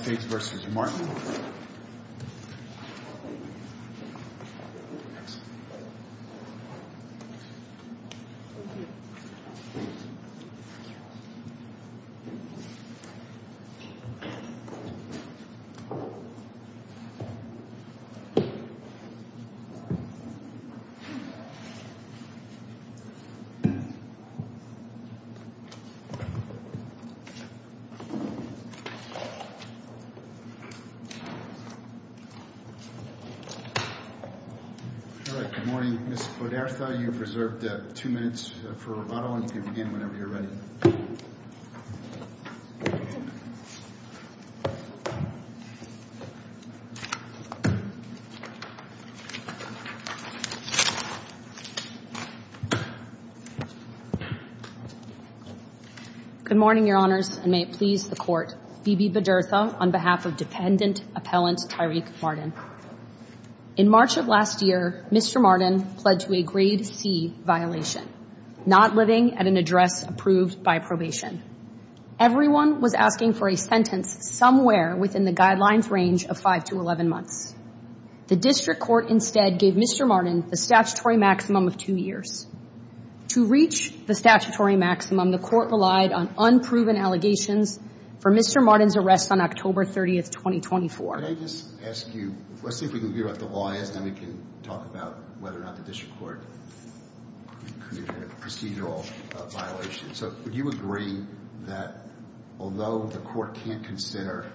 v. Martin. All right. Good morning, Mr. Poderza. You've reserved two minutes for rebuttal, and you can begin whenever you're ready. Good morning, Your Honors, and may it please the Court. Phoebe Poderza on behalf of Dependent Appellant Tyreke Martin. In March of last year, Mr. Martin pled to a Grade C violation, not living at an address approved by probation. Everyone was asking for a sentence somewhere within the guidelines range of 5 to 11 months. The District Court instead gave Mr. Martin the statutory maximum of two years. To reach the statutory maximum, the Court relied on unproven allegations for Mr. Martin's arrest on October 30, 2024. Why don't I just ask you, let's see if we can figure out what the law is, and then we can talk about whether or not the District Court could have a procedural violation. So would you agree that although the Court can't consider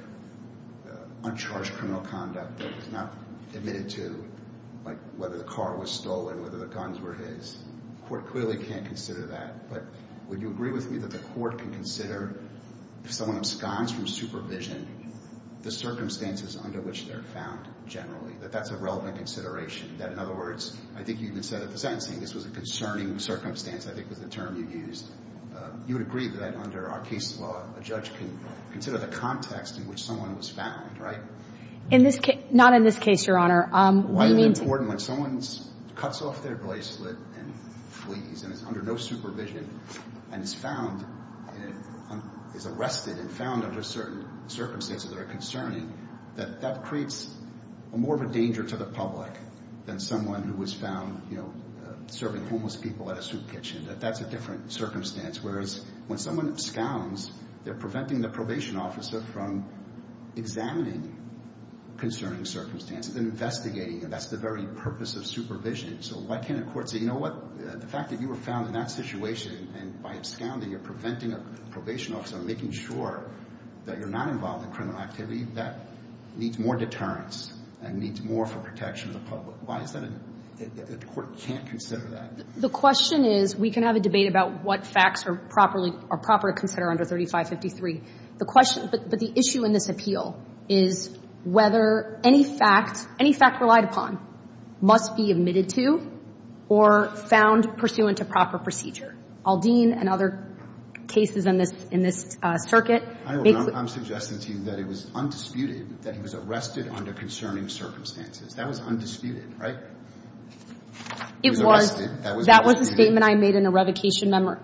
uncharged criminal conduct that was not admitted to, like whether the car was stolen, whether the guns were his, the Court clearly can't consider that. But would you agree with me that the Court can consider if someone absconds from supervision, the circumstances under which they're found generally, that that's a relevant consideration? That, in other words, I think you even said at the sentencing, this was a concerning circumstance, I think was the term you used. You would agree that under our case law, a judge can consider the context in which someone was found, right? In this case, not in this case, Your Honor. Why is it important when someone cuts off their bracelet and flees and is under no supervision and is found, is arrested and found under certain circumstances that are concerning, that that creates more of a danger to the public than someone who was found serving homeless people at a soup kitchen. That's a different circumstance. Whereas when someone absconds, they're preventing the probation officer from examining concerning circumstances and investigating, and that's the very purpose of supervision. So why can't a court say, you know what, the fact that you were found in that situation, and by absconding, you're preventing a probation officer from making sure that you're not involved in criminal activity, that needs more deterrence and needs more for protection of the public. Why is that the Court can't consider that? The question is, we can have a debate about what facts are properly, are proper to consider under 3553. The question, but the issue in this appeal, is whether any fact, any fact relied upon, must be admitted to or found pursuant to proper procedure. Aldean and other cases in this, in this circuit. I'm suggesting to you that it was undisputed that he was arrested under concerning circumstances. That was undisputed, right? It was. That was the statement I made in a revocation, and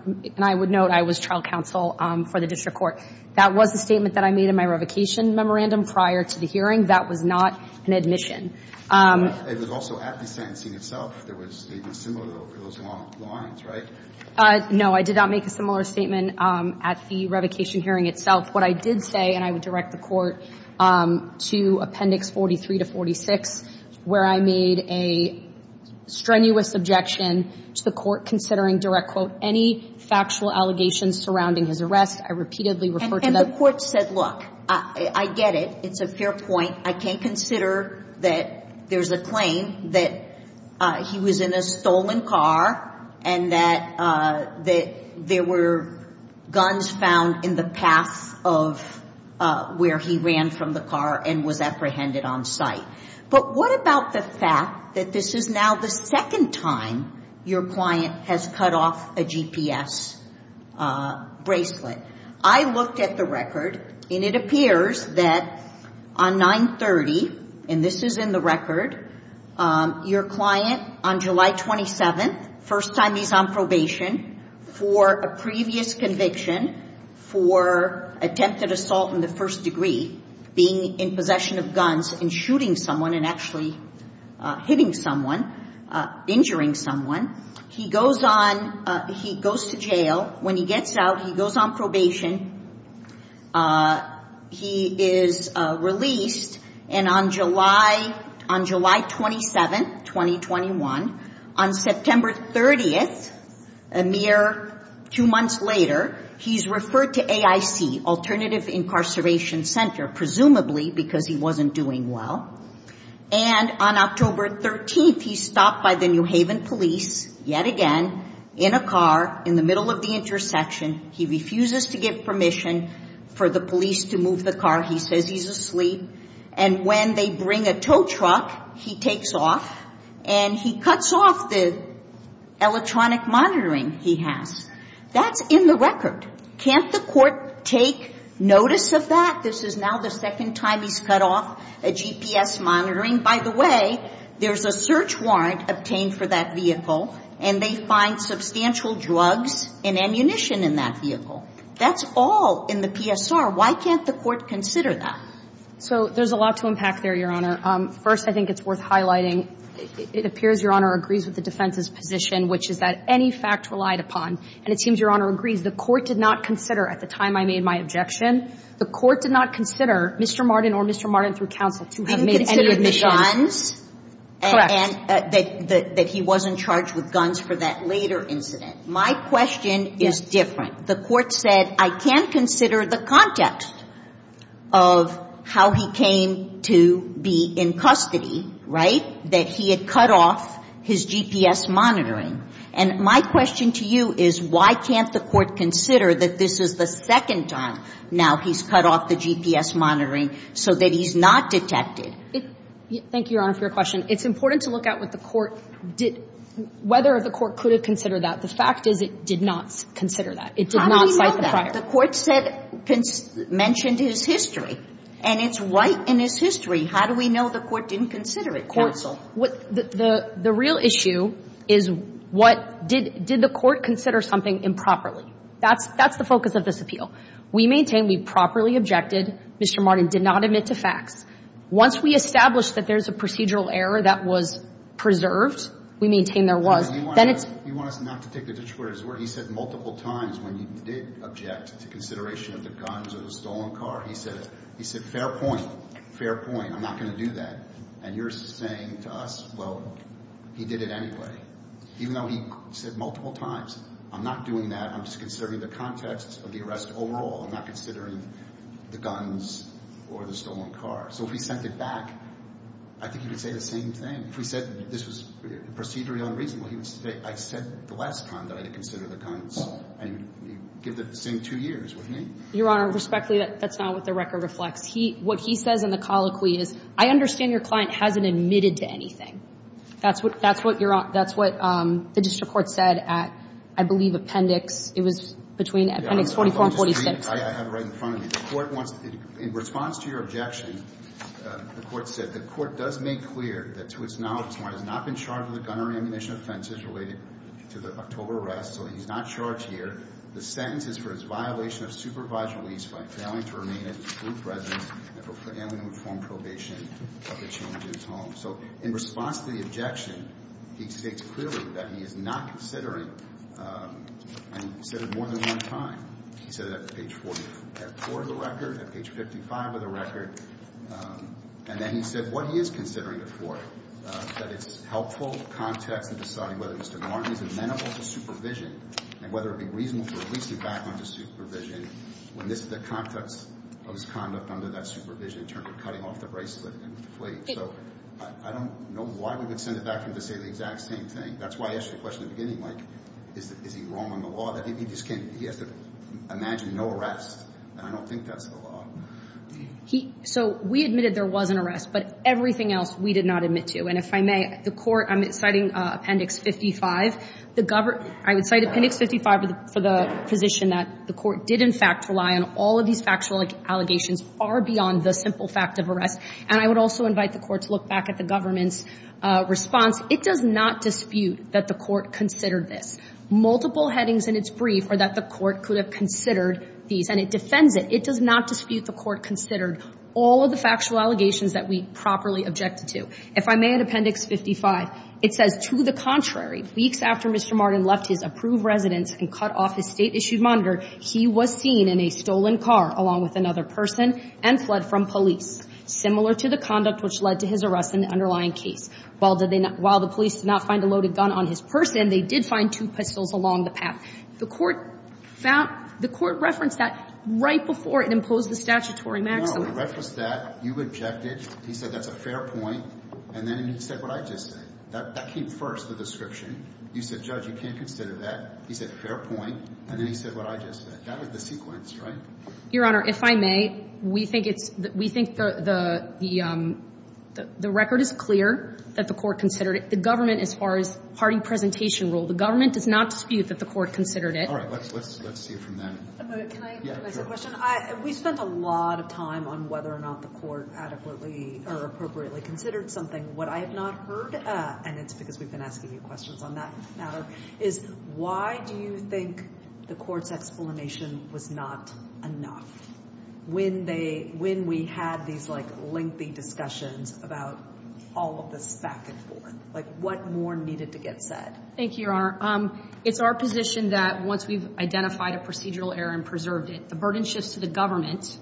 I would note I was trial counsel for the district court. That was the statement that I made in my revocation memorandum prior to the hearing. That was not an admission. It was also at the sentencing itself. There was a similar one for those long lines, right? No, I did not make a similar statement at the revocation hearing itself. What I did say, and I would direct the Court to Appendix 43 to 46, where I made a strenuous objection to the Court considering, direct quote, any factual allegations surrounding his arrest. I repeatedly referred to that. And the Court said, look, I get it. It's a fair point. I can't consider that there's a claim that he was in a stolen car and that there were guns found in the path of where he ran from the car and was apprehended on site. But what about the fact that this is now the second time your client has cut off a GPS bracelet? I looked at the record, and it appears that on 9-30, and this is in the record, your client on July 27th, first time he's on probation for a previous conviction for attempted assault in the first degree, being in possession of guns and shooting someone and actually hitting someone, injuring someone. He goes to jail. When he gets out, he goes on probation. He is released. And on July 27, 2021, on September 30th, a mere two months later, he's referred to AIC, Alternative Incarceration Center, presumably because he wasn't doing well. And on October 13th, he's stopped by the New Haven police yet again in a car in the middle of the intersection. He refuses to give permission for the police to move the car. He says he's asleep. And when they bring a tow truck, he takes off, and he cuts off the electronic monitoring he has. That's in the record. Can't the Court take notice of that? This is now the second time he's cut off a GPS monitoring. By the way, there's a search warrant obtained for that vehicle, and they find substantial drugs and ammunition in that vehicle. That's all in the PSR. Why can't the Court consider that? So there's a lot to unpack there, Your Honor. First, I think it's worth highlighting, it appears Your Honor agrees with the defense's position, which is that any fact relied upon. And it seems Your Honor agrees. The Court did not consider at the time I made my objection. The Court did not consider Mr. Martin or Mr. Martin, through counsel, to have made any admissions. Have you considered the guns? Correct. And that he wasn't charged with guns for that later incident. My question is different. The Court said, I can't consider the context of how he came to be in custody, right, that he had cut off his GPS monitoring. And my question to you is, why can't the Court consider that this is the second time now he's cut off the GPS monitoring so that he's not detected? Thank you, Your Honor, for your question. It's important to look at what the Court did – whether the Court could have considered that. The fact is it did not consider that. It did not cite the prior. How do we know that? The Court said – mentioned his history, and it's right in his history. How do we know the Court didn't consider it, counsel? The real issue is what – did the Court consider something improperly? That's the focus of this appeal. We maintain we properly objected. Mr. Martin did not admit to facts. Once we establish that there's a procedural error that was preserved, we maintain there was. Then it's – You want us not to take the Detroiters' word. He said multiple times when he did object to consideration of the guns or the stolen car, he said it. He said, fair point. Fair point. I'm not going to do that. And you're saying to us, well, he did it anyway. Even though he said multiple times, I'm not doing that. I'm just considering the context of the arrest overall. I'm not considering the guns or the stolen car. So if he sent it back, I think he would say the same thing. If he said this was procedurally unreasonable, he would say, I said the last time that I did consider the guns. And you give the same two years with me. Your Honor, respectfully, that's not what the record reflects. What he says in the colloquy is, I understand your client hasn't admitted to anything. That's what you're – that's what the district court said at, I believe, Appendix – it was between Appendix 44 and 46. I have it right in front of me. The court wants – in response to your objection, the court said, the court does make clear that to its knowledge, someone has not been charged with a gun or ammunition offense as related to the October arrest, so he's not charged here. The sentence is for his violation of supervised release by failing to remain a group resident and for failing to perform probation of the change in his home. So in response to the objection, he states clearly that he is not considering and considered more than one time. He said it at page 44 of the record, at page 55 of the record, and then he said what he is considering it for, that it's helpful context in deciding whether Mr. Martin is amenable to supervision and whether it would be reasonable to release him back under supervision when this is the context of his conduct under that supervision in terms of cutting off the bracelet and the plate. So I don't know why we would send it back for him to say the exact same thing. That's why I asked you the question at the beginning, Mike. Is he wrong on the law that he just can't – he has to imagine no arrest, and I don't think that's the law. He – so we admitted there was an arrest, but everything else we did not admit to. And if I may, the court – I'm citing Appendix 55. I would cite Appendix 55 for the position that the court did, in fact, rely on all of these factual allegations far beyond the simple fact of arrest. And I would also invite the court to look back at the government's response. It does not dispute that the court considered this. Multiple headings in its brief are that the court could have considered these, and it defends it. It does not dispute the court considered all of the factual allegations that we properly objected to. If I may, in Appendix 55, it says, To the contrary, weeks after Mr. Martin left his approved residence and cut off his state-issued monitor, he was seen in a stolen car along with another person and fled from police, similar to the conduct which led to his arrest in the underlying case. While did they not – while the police did not find a loaded gun on his person, they did find two pistols along the path. The court found – the court referenced that right before it imposed the statutory maximum. No, it referenced that. You objected. He said that's a fair point. And then he said what I just said. That came first, the description. You said, Judge, you can't consider that. He said, fair point. And then he said what I just said. That was the sequence, right? Your Honor, if I may, we think it's – we think the record is clear that the court considered it. The government, as far as party presentation rule, the government does not dispute that the court considered it. All right. Let's see from that. Can I say a question? We spent a lot of time on whether or not the court adequately or appropriately considered something. What I have not heard, and it's because we've been asking you questions on that matter, is why do you think the court's explanation was not enough when they – when we had these, like, lengthy discussions about all of this back and forth? Like, what more needed to get said? Thank you, Your Honor. It's our position that once we've identified a procedural error and preserved it, the burden shifts to the government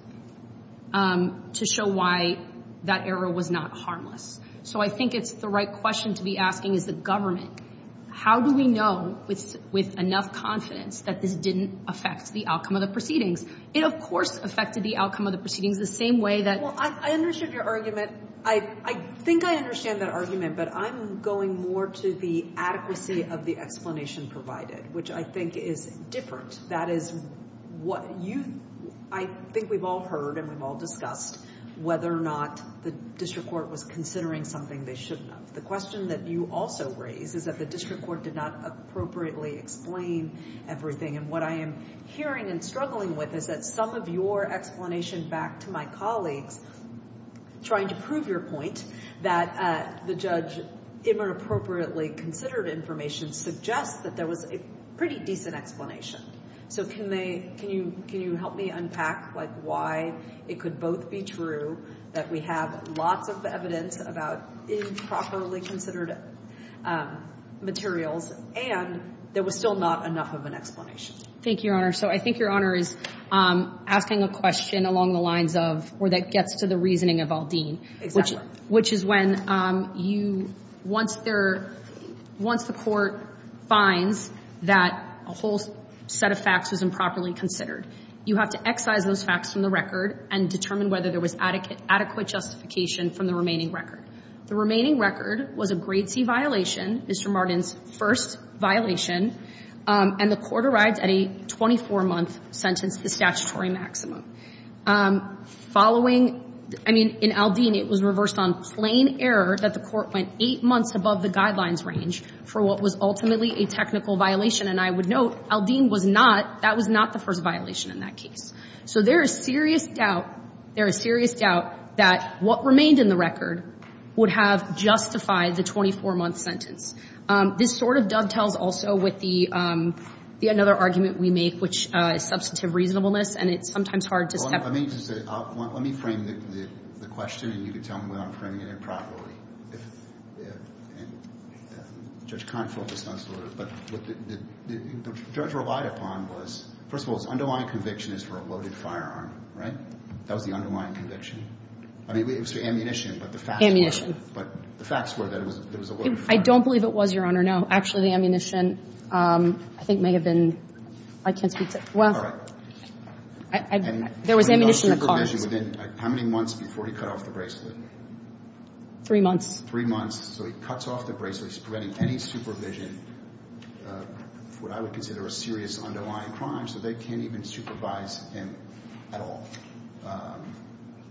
to show why that error was not harmless. So I think it's the right question to be asking is the government, how do we know with enough confidence that this didn't affect the outcome of the proceedings? It, of course, affected the outcome of the proceedings the same way that – Well, I understood your argument. I think I understand that argument, but I'm going more to the adequacy of the explanation provided, which I think is different. That is what you – I think we've all heard and we've all discussed whether or not the district court was considering something they shouldn't have. The question that you also raise is that the district court did not appropriately explain everything. And what I am hearing and struggling with is that some of your explanation back to my colleagues trying to prove your point that the judge inappropriately considered information suggests that there was a pretty decent explanation. So can they – can you help me unpack, like, why it could both be true that we have lots of evidence about improperly considered materials and there was still not enough of an explanation? Thank you, Your Honor. So I think Your Honor is asking a question along the lines of where that gets to the reasoning of Aldine. Exactly. So, the question I would ask is, if the district court finds that a whole set of facts was improperly considered, you have to excise those facts from the record and determine whether there was adequate justification from the remaining record. The remaining record was a grade C violation, Mr. Martin's first violation, and the court arrived at a 24-month sentence, the statutory maximum. Following – I mean, in Aldine, it was reversed on plain error that the court went eight months above the guidelines range for what was ultimately a technical violation, and I would note Aldine was not – that was not the first violation in that case. So there is serious doubt – there is serious doubt that what remained in the record would have justified the 24-month sentence. This sort of dovetails also with the – another argument we make, which is substantive reasonableness, and it's sometimes hard to – Well, let me just say – let me frame the question, and you can tell me whether I'm framing it improperly. If – and Judge Confort was not – but what the judge relied upon was, first of all, its underlying conviction is for a loaded firearm, right? That was the underlying conviction. I mean, it was for ammunition, but the facts were – Ammunition. But the facts were that it was a loaded firearm. I don't believe it was, Your Honor. No. Actually, the ammunition, I think, may have been – I can't speak to – well. There was ammunition in the car. How many months before he cut off the bracelet? Three months. So he cuts off the bracelet. He's preventing any supervision of what I would consider a serious underlying crime, so they can't even supervise him at all.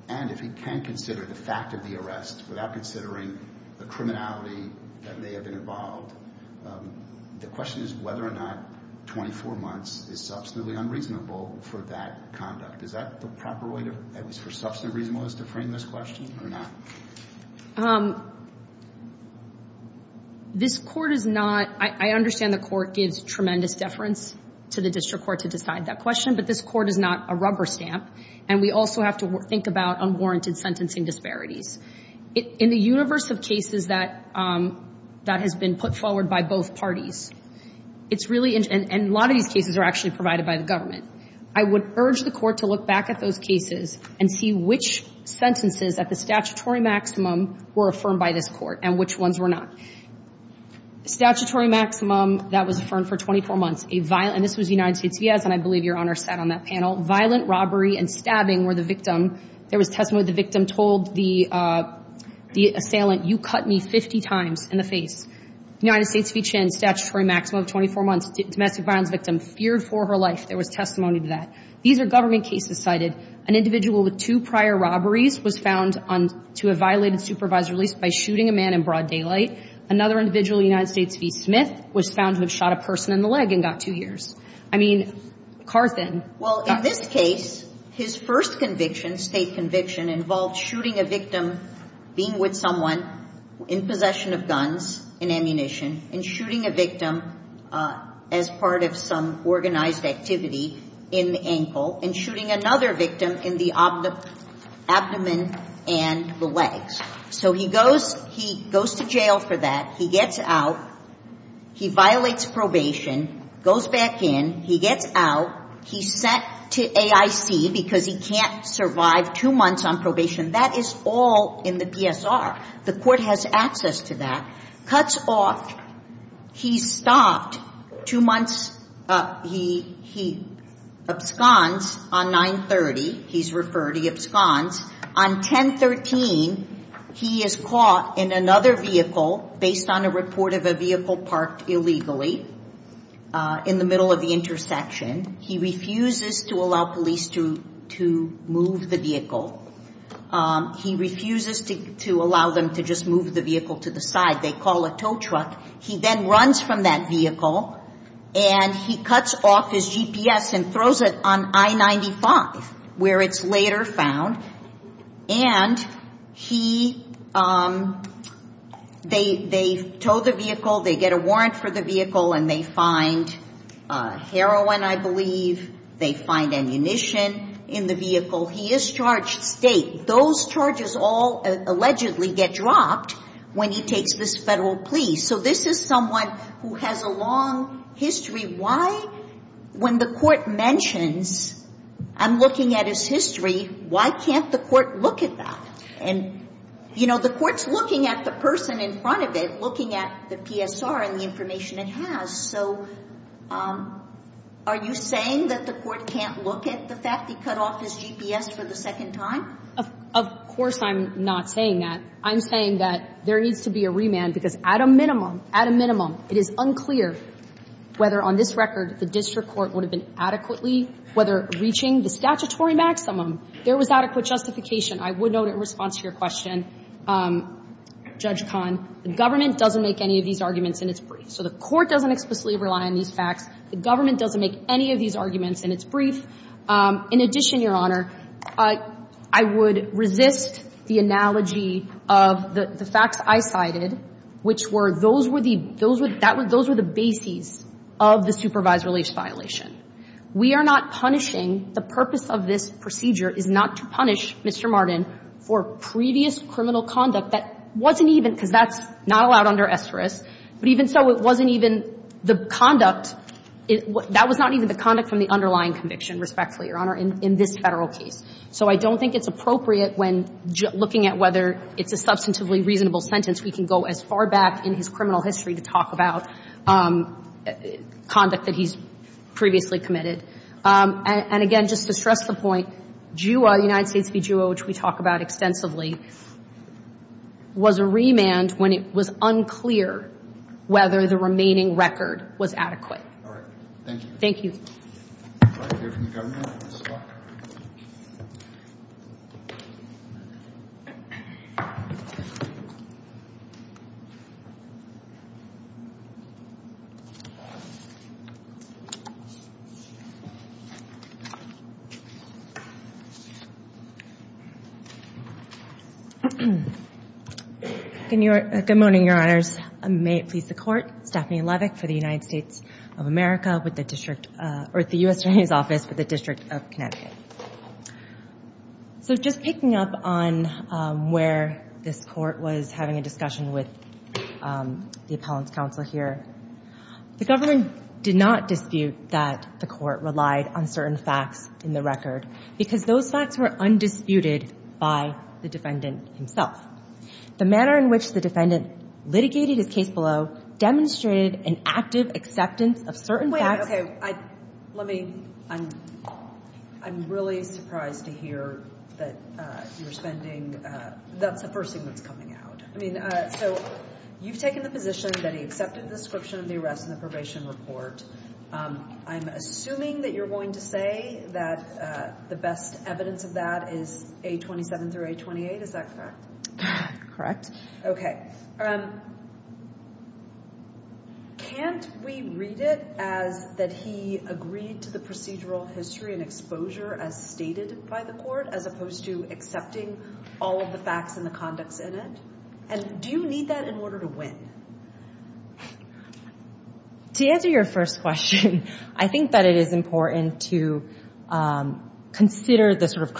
And if he can consider the fact of the arrest without considering the criminality that may have been involved, the question is whether or not 24 months is substantively unreasonable for that conduct. Is that the proper way to – at least for substantive reasonableness to frame this question or not? This Court is not – I understand the Court gives tremendous deference to the district court to decide that question, but this Court is not a rubber stamp, and we also have to think about unwarranted sentencing disparities. In the universe of cases that has been put forward by both parties, it's really – and a lot of these cases are actually provided by the government. I would urge the Court to look back at those cases and see which sentences at the statutory maximum were affirmed by this Court and which ones were not. Statutory maximum that was affirmed for 24 months, a violent – and this was United States v. Ezz, and I believe Your Honor sat on that panel. Violent robbery and stabbing were the victim. There was testimony where the victim told the assailant, you cut me 50 times in the face. United States v. Chin, statutory maximum of 24 months, domestic violence victim, feared for her life. There was testimony to that. These are government cases cited. An individual with two prior robberies was found to have violated supervisory release by shooting a man in broad daylight. Another individual, United States v. Smith, was found to have shot a person in the leg and got two years. I mean, Carthen got – Well, in this case, his first conviction, state conviction, involved shooting a victim, being with someone in possession of guns and ammunition, and shooting a victim as part of some organized activity in the ankle, and shooting another victim in the abdomen and the legs. So he goes – he goes to jail for that. He gets out. He violates probation, goes back in. He gets out. He's sent to AIC because he can't survive two months on probation. That is all in the PSR. The court has access to that. Cuts off. He's stopped two months. He – he absconds on 9-30. He's referred. He absconds. On 10-13, he is caught in another vehicle based on a report of a vehicle parked illegally in the middle of the intersection. He refuses to allow police to move the vehicle. He refuses to allow them to just move the vehicle to the side. They call a tow truck. He then runs from that vehicle, and he cuts off his GPS and throws it on I-95, where it's later found. And he – they tow the vehicle. They get a warrant for the vehicle, and they find heroin, I believe. They find ammunition in the vehicle. He is charged state. Those charges all allegedly get dropped when he takes this federal plea. So this is someone who has a long history. Why, when the court mentions, I'm looking at his history, why can't the court look at that? And, you know, the court's looking at the person in front of it, looking at the PSR and the information it has. So are you saying that the court can't look at the fact he cut off his GPS for the second time? Of course I'm not saying that. I'm saying that there needs to be a remand, because at a minimum, at a minimum, it is unclear whether on this record the district court would have been adequately whether reaching the statutory maximum there was adequate justification. I would note in response to your question, Judge Kahn, the government doesn't make any of these arguments in its brief. So the court doesn't explicitly rely on these facts. The government doesn't make any of these arguments in its brief. In addition, Your Honor, I would resist the analogy of the facts I cited, which were those were the – those were the bases of the supervisory liaise violation. We are not punishing – the purpose of this procedure is not to punish Mr. Martin for previous criminal conduct that wasn't even – because that's not allowed under esteris. But even so, it wasn't even the conduct – that was not even the conduct from the underlying conviction, respectfully, Your Honor, in this Federal case. So I don't think it's appropriate when looking at whether it's a substantively reasonable sentence, we can go as far back in his criminal history to talk about conduct that he's previously committed. And again, just to stress the point, JUA, United States v. JUA, which we talk about extensively, was a remand when it was unclear whether the remaining record was adequate. All right. Thank you. Thank you. Would you like to hear from the Governor? Good morning, Your Honors. May it please the Court. Stephanie Levick for the United States of America with the District – or the U.S. Attorney's Office with the District of Connecticut. So just picking up on where this Court was having a discussion with the Appellant's Counsel here, the Government did not dispute that the Court relied on certain facts in the record because those facts were undisputed by the defendant himself. The manner in which the defendant litigated his case below demonstrated an active acceptance of certain facts. Wait. Okay. Let me – I'm really surprised to hear that you're spending – that's the first thing that's coming out. I mean, so you've taken the position that he accepted the description of the arrest and the probation report. I'm assuming that you're going to say that the best evidence of that is A27 through A28. Is that correct? Correct. Okay. Can't we read it as that he agreed to the procedural history and exposure as stated by the Court as opposed to accepting all of the facts and the conducts in it? And do you need that in order to win? To answer your first question, I think that it is important to consider the sort of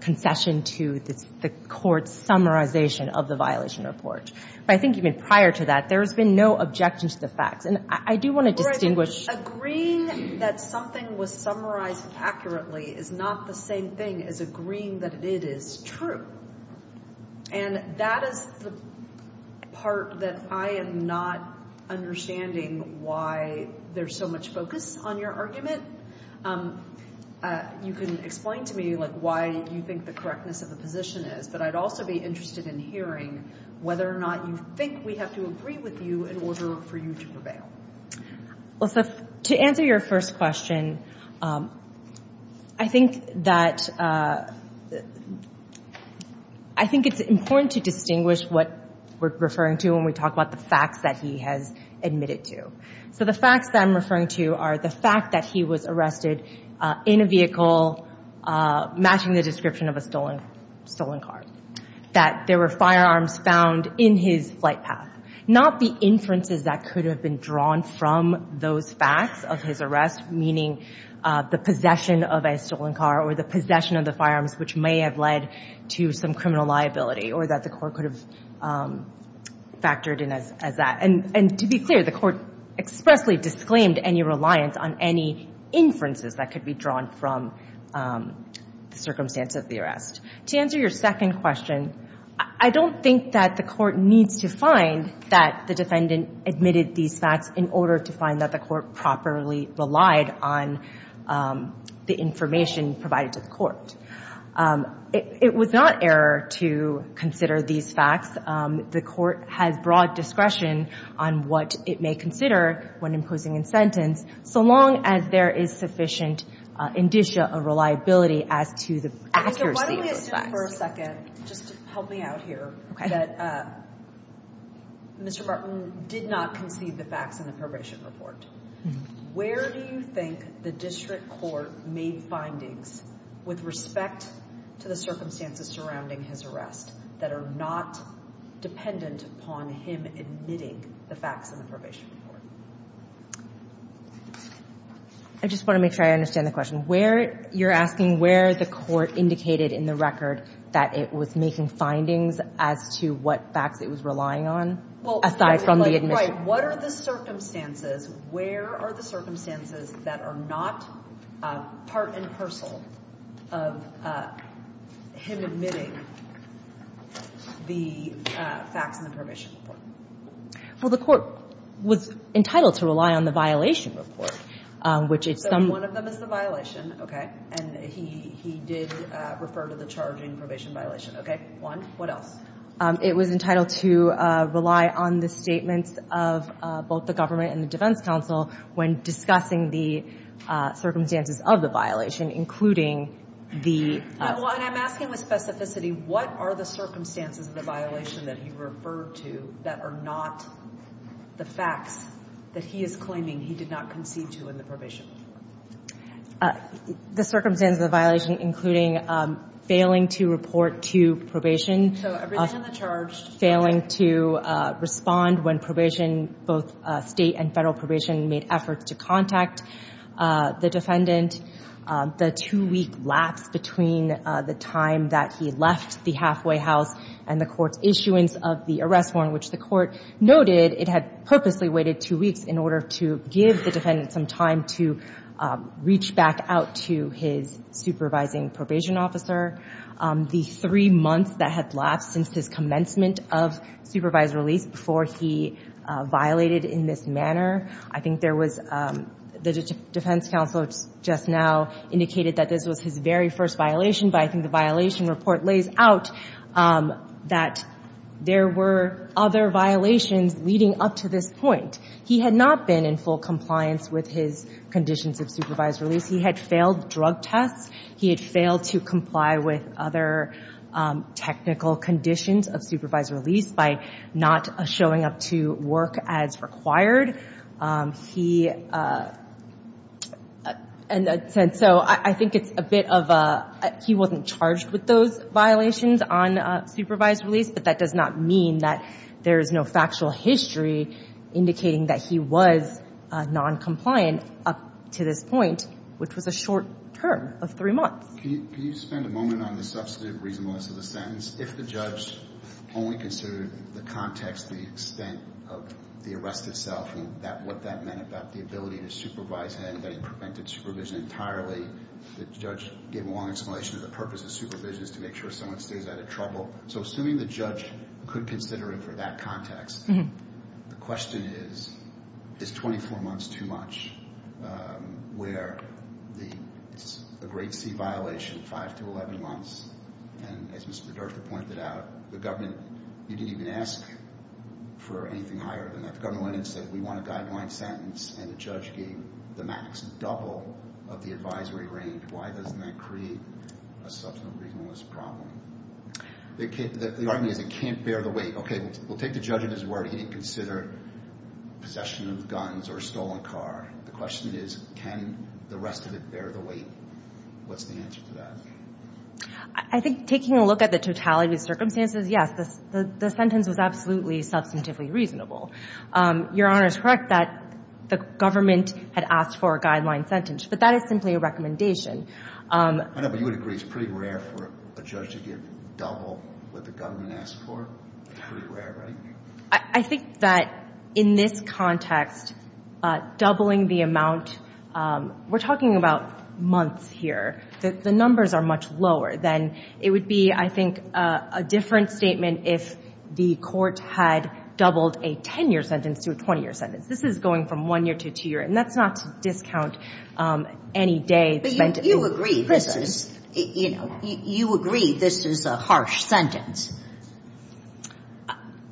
concession to the Court's summarization of the violation report. But I think even prior to that, there has been no objection to the facts. And I do want to distinguish – Agreeing that something was summarized accurately is not the same thing as agreeing that it is true. And that is the part that I am not understanding why there's so much focus on your argument. You can explain to me why you think the correctness of the position is. But I'd also be interested in hearing whether or not you think we have to agree with you in order for you to prevail. To answer your first question, I think it's important to distinguish what we're referring to when we talk about the facts that he has admitted to. So the facts that I'm referring to are the fact that he was arrested in a vehicle matching the description of a stolen car. That there were firearms found in his flight path. Not the inferences that could have been drawn from those facts of his arrest, meaning the possession of a stolen car or the possession of the firearms, which may have led to some criminal liability or that the Court could have factored in as that. And to be clear, the Court expressly disclaimed any reliance on any inferences that could be drawn from the circumstance of the arrest. To answer your second question, I don't think that the Court needs to find that the defendant admitted these facts in order to find that the Court properly relied on the information provided to the Court. It was not error to consider these facts. The Court has broad discretion on what it may consider when imposing incentives, so long as there is sufficient indicia of reliability as to the accuracy of those facts. Why don't we assume for a second, just to help me out here, that Mr. Barton did not concede the facts in the probation report. Where do you think the District Court made findings with respect to the defendant upon him admitting the facts in the probation report? I just want to make sure I understand the question. Where, you're asking where the Court indicated in the record that it was making findings as to what facts it was relying on? Well, aside from the admission. Right. What are the circumstances, where are the circumstances that are not part and parcel of him admitting the facts in the probation report? Well, the Court was entitled to rely on the violation report, which it's some. So one of them is the violation, okay, and he did refer to the charging probation violation, okay. One. What else? It was entitled to rely on the statements of both the government and the defense counsel when discussing the circumstances of the violation, including the. Well, and I'm asking with specificity, what are the circumstances of the violation that he referred to that are not the facts that he is claiming he did not concede to in the probation report? The circumstances of the violation, including failing to report to probation. So everything in the charge. Failing to respond when probation, both state and federal probation, made efforts to contact the defendant. The two-week lapse between the time that he left the halfway house and the Court's issuance of the arrest warrant, which the Court noted it had purposely waited two weeks in order to give the defendant some time to reach back out to his supervising probation officer. The three months that had lapsed since his commencement of supervised release before he violated in this manner. I think there was the defense counsel just now indicated that this was his very first violation, but I think the violation report lays out that there were other violations leading up to this point. He had not been in full compliance with his conditions of supervised release. He had failed drug tests. He had failed to comply with other technical conditions of supervised release by not showing up to work as required. He said, so I think it's a bit of a, he wasn't charged with those violations on supervised release, but that does not mean that there is no factual history indicating that he was noncompliant up to this point, which was a short term of three months. Can you spend a moment on the substantive reasonableness of the sentence? If the judge only considered the context, the extent of the arrest itself and what that meant about the ability to supervise him, that he prevented supervision entirely, the judge gave a long explanation of the purpose of supervision is to make sure someone stays out of trouble. So assuming the judge could consider it for that context, the question is, is 24 months too much, where it's a great C violation, five to 11 months, and as Mr. Durst had pointed out, the government, you didn't even ask for anything higher than that. The government went in and said, we want a guideline sentence, and the judge gave the max double of the advisory range. Why doesn't that create a substantive reasonableness problem? The argument is it can't bear the weight. Okay, we'll take the judge at his word. He didn't consider possession of guns or a stolen car. The question is, can the rest of it bear the weight? What's the answer to that? I think taking a look at the totality of the circumstances, yes, the sentence was absolutely substantively reasonable. Your Honor is correct that the government had asked for a guideline sentence, but that is simply a recommendation. I know, but you would agree it's pretty rare for a judge to give double what the government asked for. It's pretty rare, right? I think that in this context, doubling the amount, we're talking about months here. The numbers are much lower than it would be, I think, a different statement if the court had doubled a 10-year sentence to a 20-year sentence. This is going from one year to two years, and that's not to discount any day spent in prison. But you agree this is, you know, you agree this is a harsh sentence.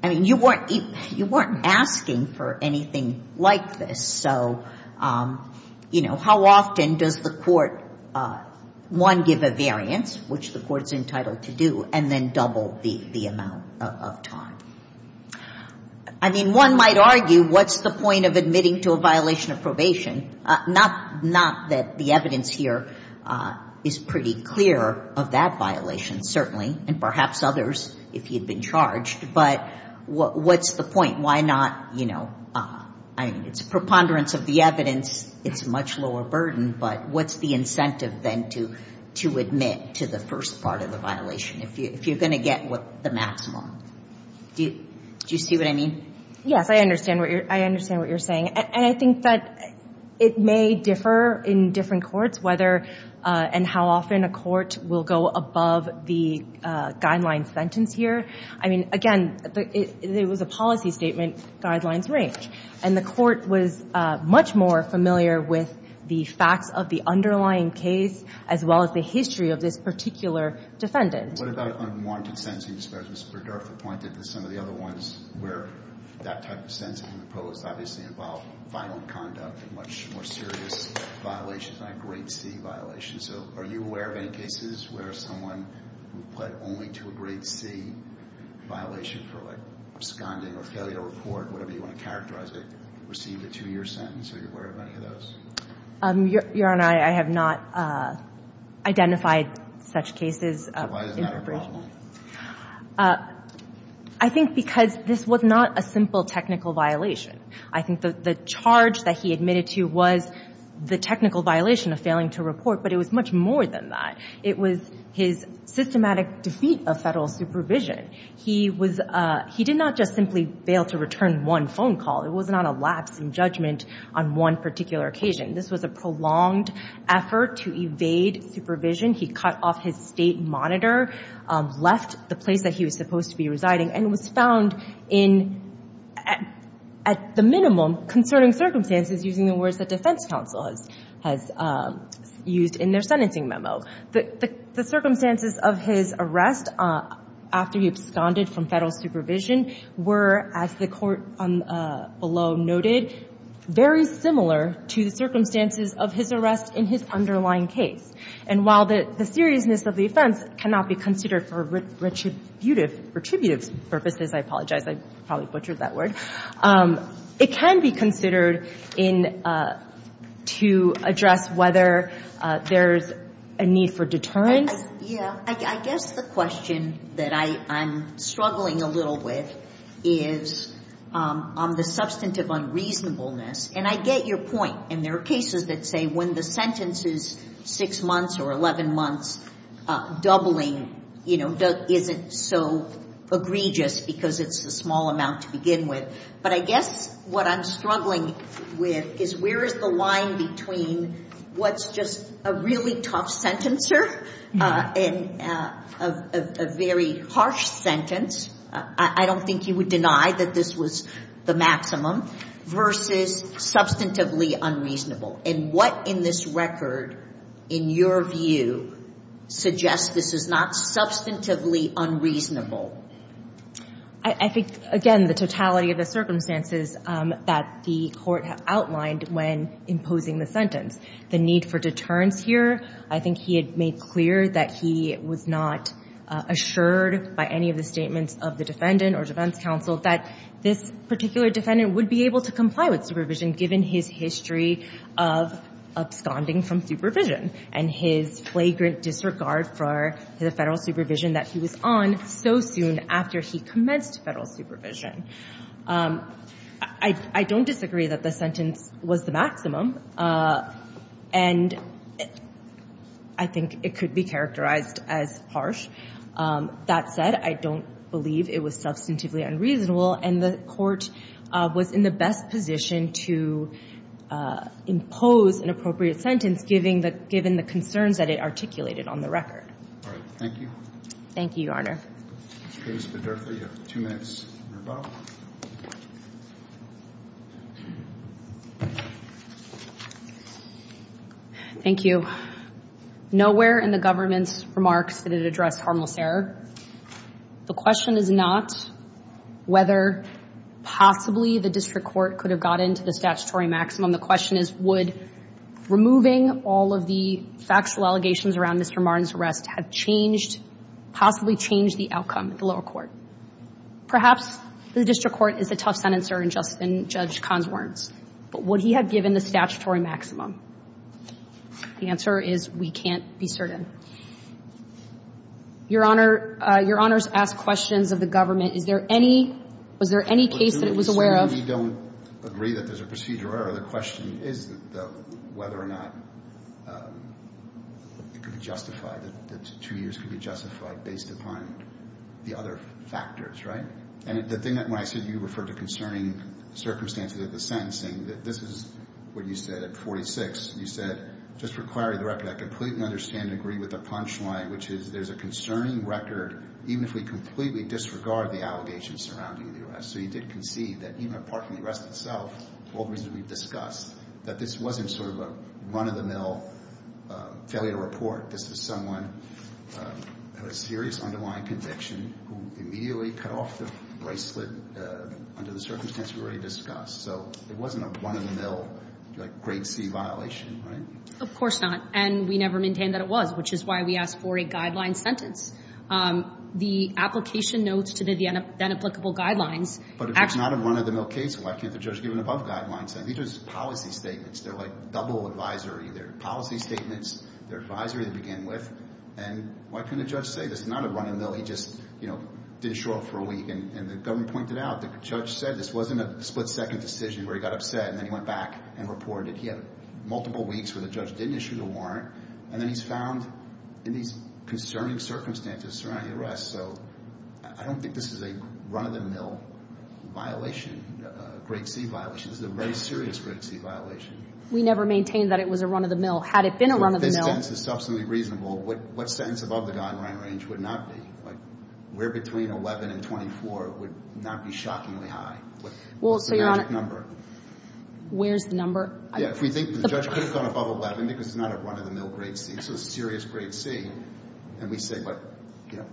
I mean, you weren't asking for anything like this. So, you know, how often does the court, one, give a variance, which the court is entitled to do, and then double the amount of time? I mean, one might argue, what's the point of admitting to a violation of probation? Not that the evidence here is pretty clear of that violation, certainly, and perhaps others, if you've been charged, but what's the point? Why not, you know, I mean, it's a preponderance of the evidence. It's a much lower burden, but what's the incentive then to admit to the first part of the violation if you're going to get the maximum? Do you see what I mean? Yes, I understand what you're saying. And I think that it may differ in different courts whether and how often a court will go above the guideline sentence here. I mean, again, it was a policy statement. Guidelines range. And the court was much more familiar with the facts of the underlying case as well as the history of this particular defendant. What about unwanted sentencing? I suppose Mr. Berdorf had pointed to some of the other ones where that type of sentencing proposed obviously involved violent conduct and much more serious violations, like rape scene violations. So are you aware of any cases where someone who pled only to a grade C violation for, like, absconding or failure to report, whatever you want to characterize it, received a two-year sentence? Are you aware of any of those? Your Honor, I have not identified such cases. Why is that a problem? I think because this was not a simple technical violation. I think the charge that he admitted to was the technical violation of failing to report, but it was much more than that. It was his systematic defeat of federal supervision. He did not just simply fail to return one phone call. It wasn't on a lapse in judgment on one particular occasion. This was a prolonged effort to evade supervision. He cut off his state monitor, left the place that he was supposed to be residing, and was found in, at the minimum, concerning circumstances, using the words that defense counsel has used in their sentencing memo. The circumstances of his arrest after he absconded from federal supervision were, as the Court below noted, very similar to the circumstances of his arrest in his underlying case. And while the seriousness of the offense cannot be considered for retributive purposes, I apologize, I probably butchered that word, it can be considered to address whether there's a need for deterrence. Yeah. I guess the question that I'm struggling a little with is on the substantive unreasonableness, and I get your point. And there are cases that say when the sentence is six months or 11 months, doubling isn't so egregious because it's a small amount to begin with. But I guess what I'm struggling with is where is the line between what's just a really tough sentencer and a very harsh sentence, I don't think you would deny that this was the maximum, versus substantively unreasonable. And what in this record, in your view, suggests this is not substantively unreasonable? I think, again, the totality of the circumstances that the Court outlined when imposing the sentence, the need for deterrence here, I think he had made clear that he was not assured by any of the statements of the defendant or defense counsel that this particular defendant would be able to comply with supervision given his history of absconding from supervision and his flagrant disregard for the Federal supervision that he was on so soon after he commenced Federal supervision. I don't disagree that the sentence was the maximum, and I think it could be characterized as harsh. That said, I don't believe it was substantively unreasonable, and the Court was in the best position to impose an appropriate sentence given the concerns that it articulated on the record. All right. Thank you. Thank you, Your Honor. Ms. Rivas-Bedurtha, you have two minutes on your file. Thank you. Nowhere in the government's remarks did it address harmless error. The question is not whether possibly the district court could have gotten to the statutory maximum. The question is would removing all of the factual allegations around Mr. Martin's arrest have changed, possibly changed the outcome at the lower court. Perhaps the district court is a tough sentencer in Judge Kahn's words, but would he have given the statutory maximum? The answer is we can't be certain. Your Honor, your Honor's asked questions of the government. Is there any – was there any case that it was aware of? We don't agree that there's a procedure error. The question is whether or not it could be justified, that two years could be justified based upon the other factors, right? And the thing that – when I said you referred to concerning circumstances of the sentencing, this is what you said at 46. You said, just for clarity of the record, I completely understand and agree with the punchline, which is there's a concerning record even if we completely disregard the allegations surrounding the arrest. So you did concede that even apart from the arrest itself, all the reasons we've discussed, that this wasn't sort of a run-of-the-mill failure to report. This was someone who had a serious underlying conviction who immediately cut off the bracelet under the circumstances we already discussed. So it wasn't a run-of-the-mill, like, grade C violation, right? Of course not. And we never maintained that it was, which is why we asked for a guideline sentence. The application notes to the inapplicable guidelines actually – But if it's not a run-of-the-mill case, why can't the judge give an above-guideline sentence? These are just policy statements. They're like double advisory. They're policy statements. They're advisory to begin with. And why couldn't a judge say this is not a run-of-the-mill? He just, you know, didn't show up for a week. And the government pointed out that the judge said this wasn't a split-second decision where he got upset, and then he went back and reported he had multiple weeks where the judge didn't issue the warrant. And then he's found in these concerning circumstances surrounding the arrest. So I don't think this is a run-of-the-mill violation, a grade C violation. This is a very serious grade C violation. We never maintained that it was a run-of-the-mill. Had it been a run-of-the-mill – reasonable, what sentence above the guideline range would not be? Like, where between 11 and 24 would not be shockingly high? Well, so, Your Honor – What's the magic number? Where's the number? Yeah, if we think the judge could have gone above 11 because it's not a run-of-the-mill grade C. It's a serious grade C. And we say, but, you know,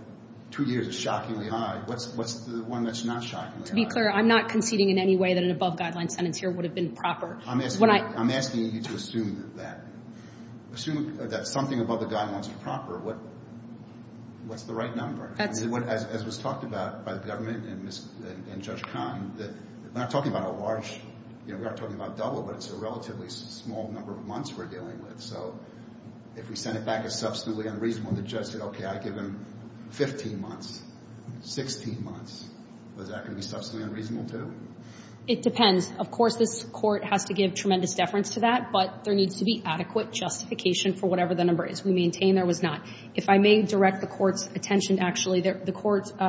two years is shockingly high. What's the one that's not shockingly high? To be clear, I'm not conceding in any way that an above-guideline sentence here would have been proper. I'm asking you to assume that. Assume that something above the guideline is proper. What's the right number? That's – As was talked about by the government and Judge Kahn, we're not talking about a large – you know, we're not talking about double, but it's a relatively small number of months we're dealing with. So if we send it back as substantively unreasonable and the judge said, okay, I give him 15 months, 16 months, is that going to be substantially unreasonable, too? It depends. Of course, this Court has to give tremendous deference to that, but there needs to be adequate justification for whatever the number is. We maintain there was not. If I may direct the Court's attention, actually, the Court –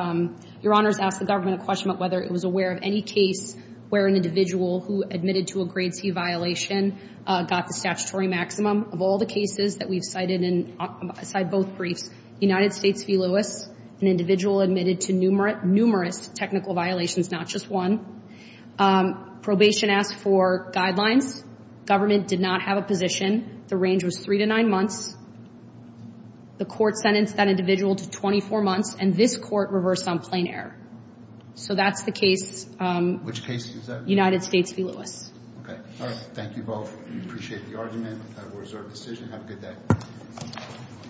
Your Honors asked the government a question about whether it was aware of any case where an individual who admitted to a grade C violation got the statutory maximum. Of all the cases that we've cited in – aside both briefs, United States v. Lewis, an individual admitted to numerous technical violations, not just one. Probation asked for guidelines. Government did not have a position. The range was three to nine months. The Court sentenced that individual to 24 months, and this Court reversed on plain error. So that's the case – Which case is that? United States v. Lewis. Okay. All right. Thank you both. We appreciate the argument. That was our decision. Have a good day.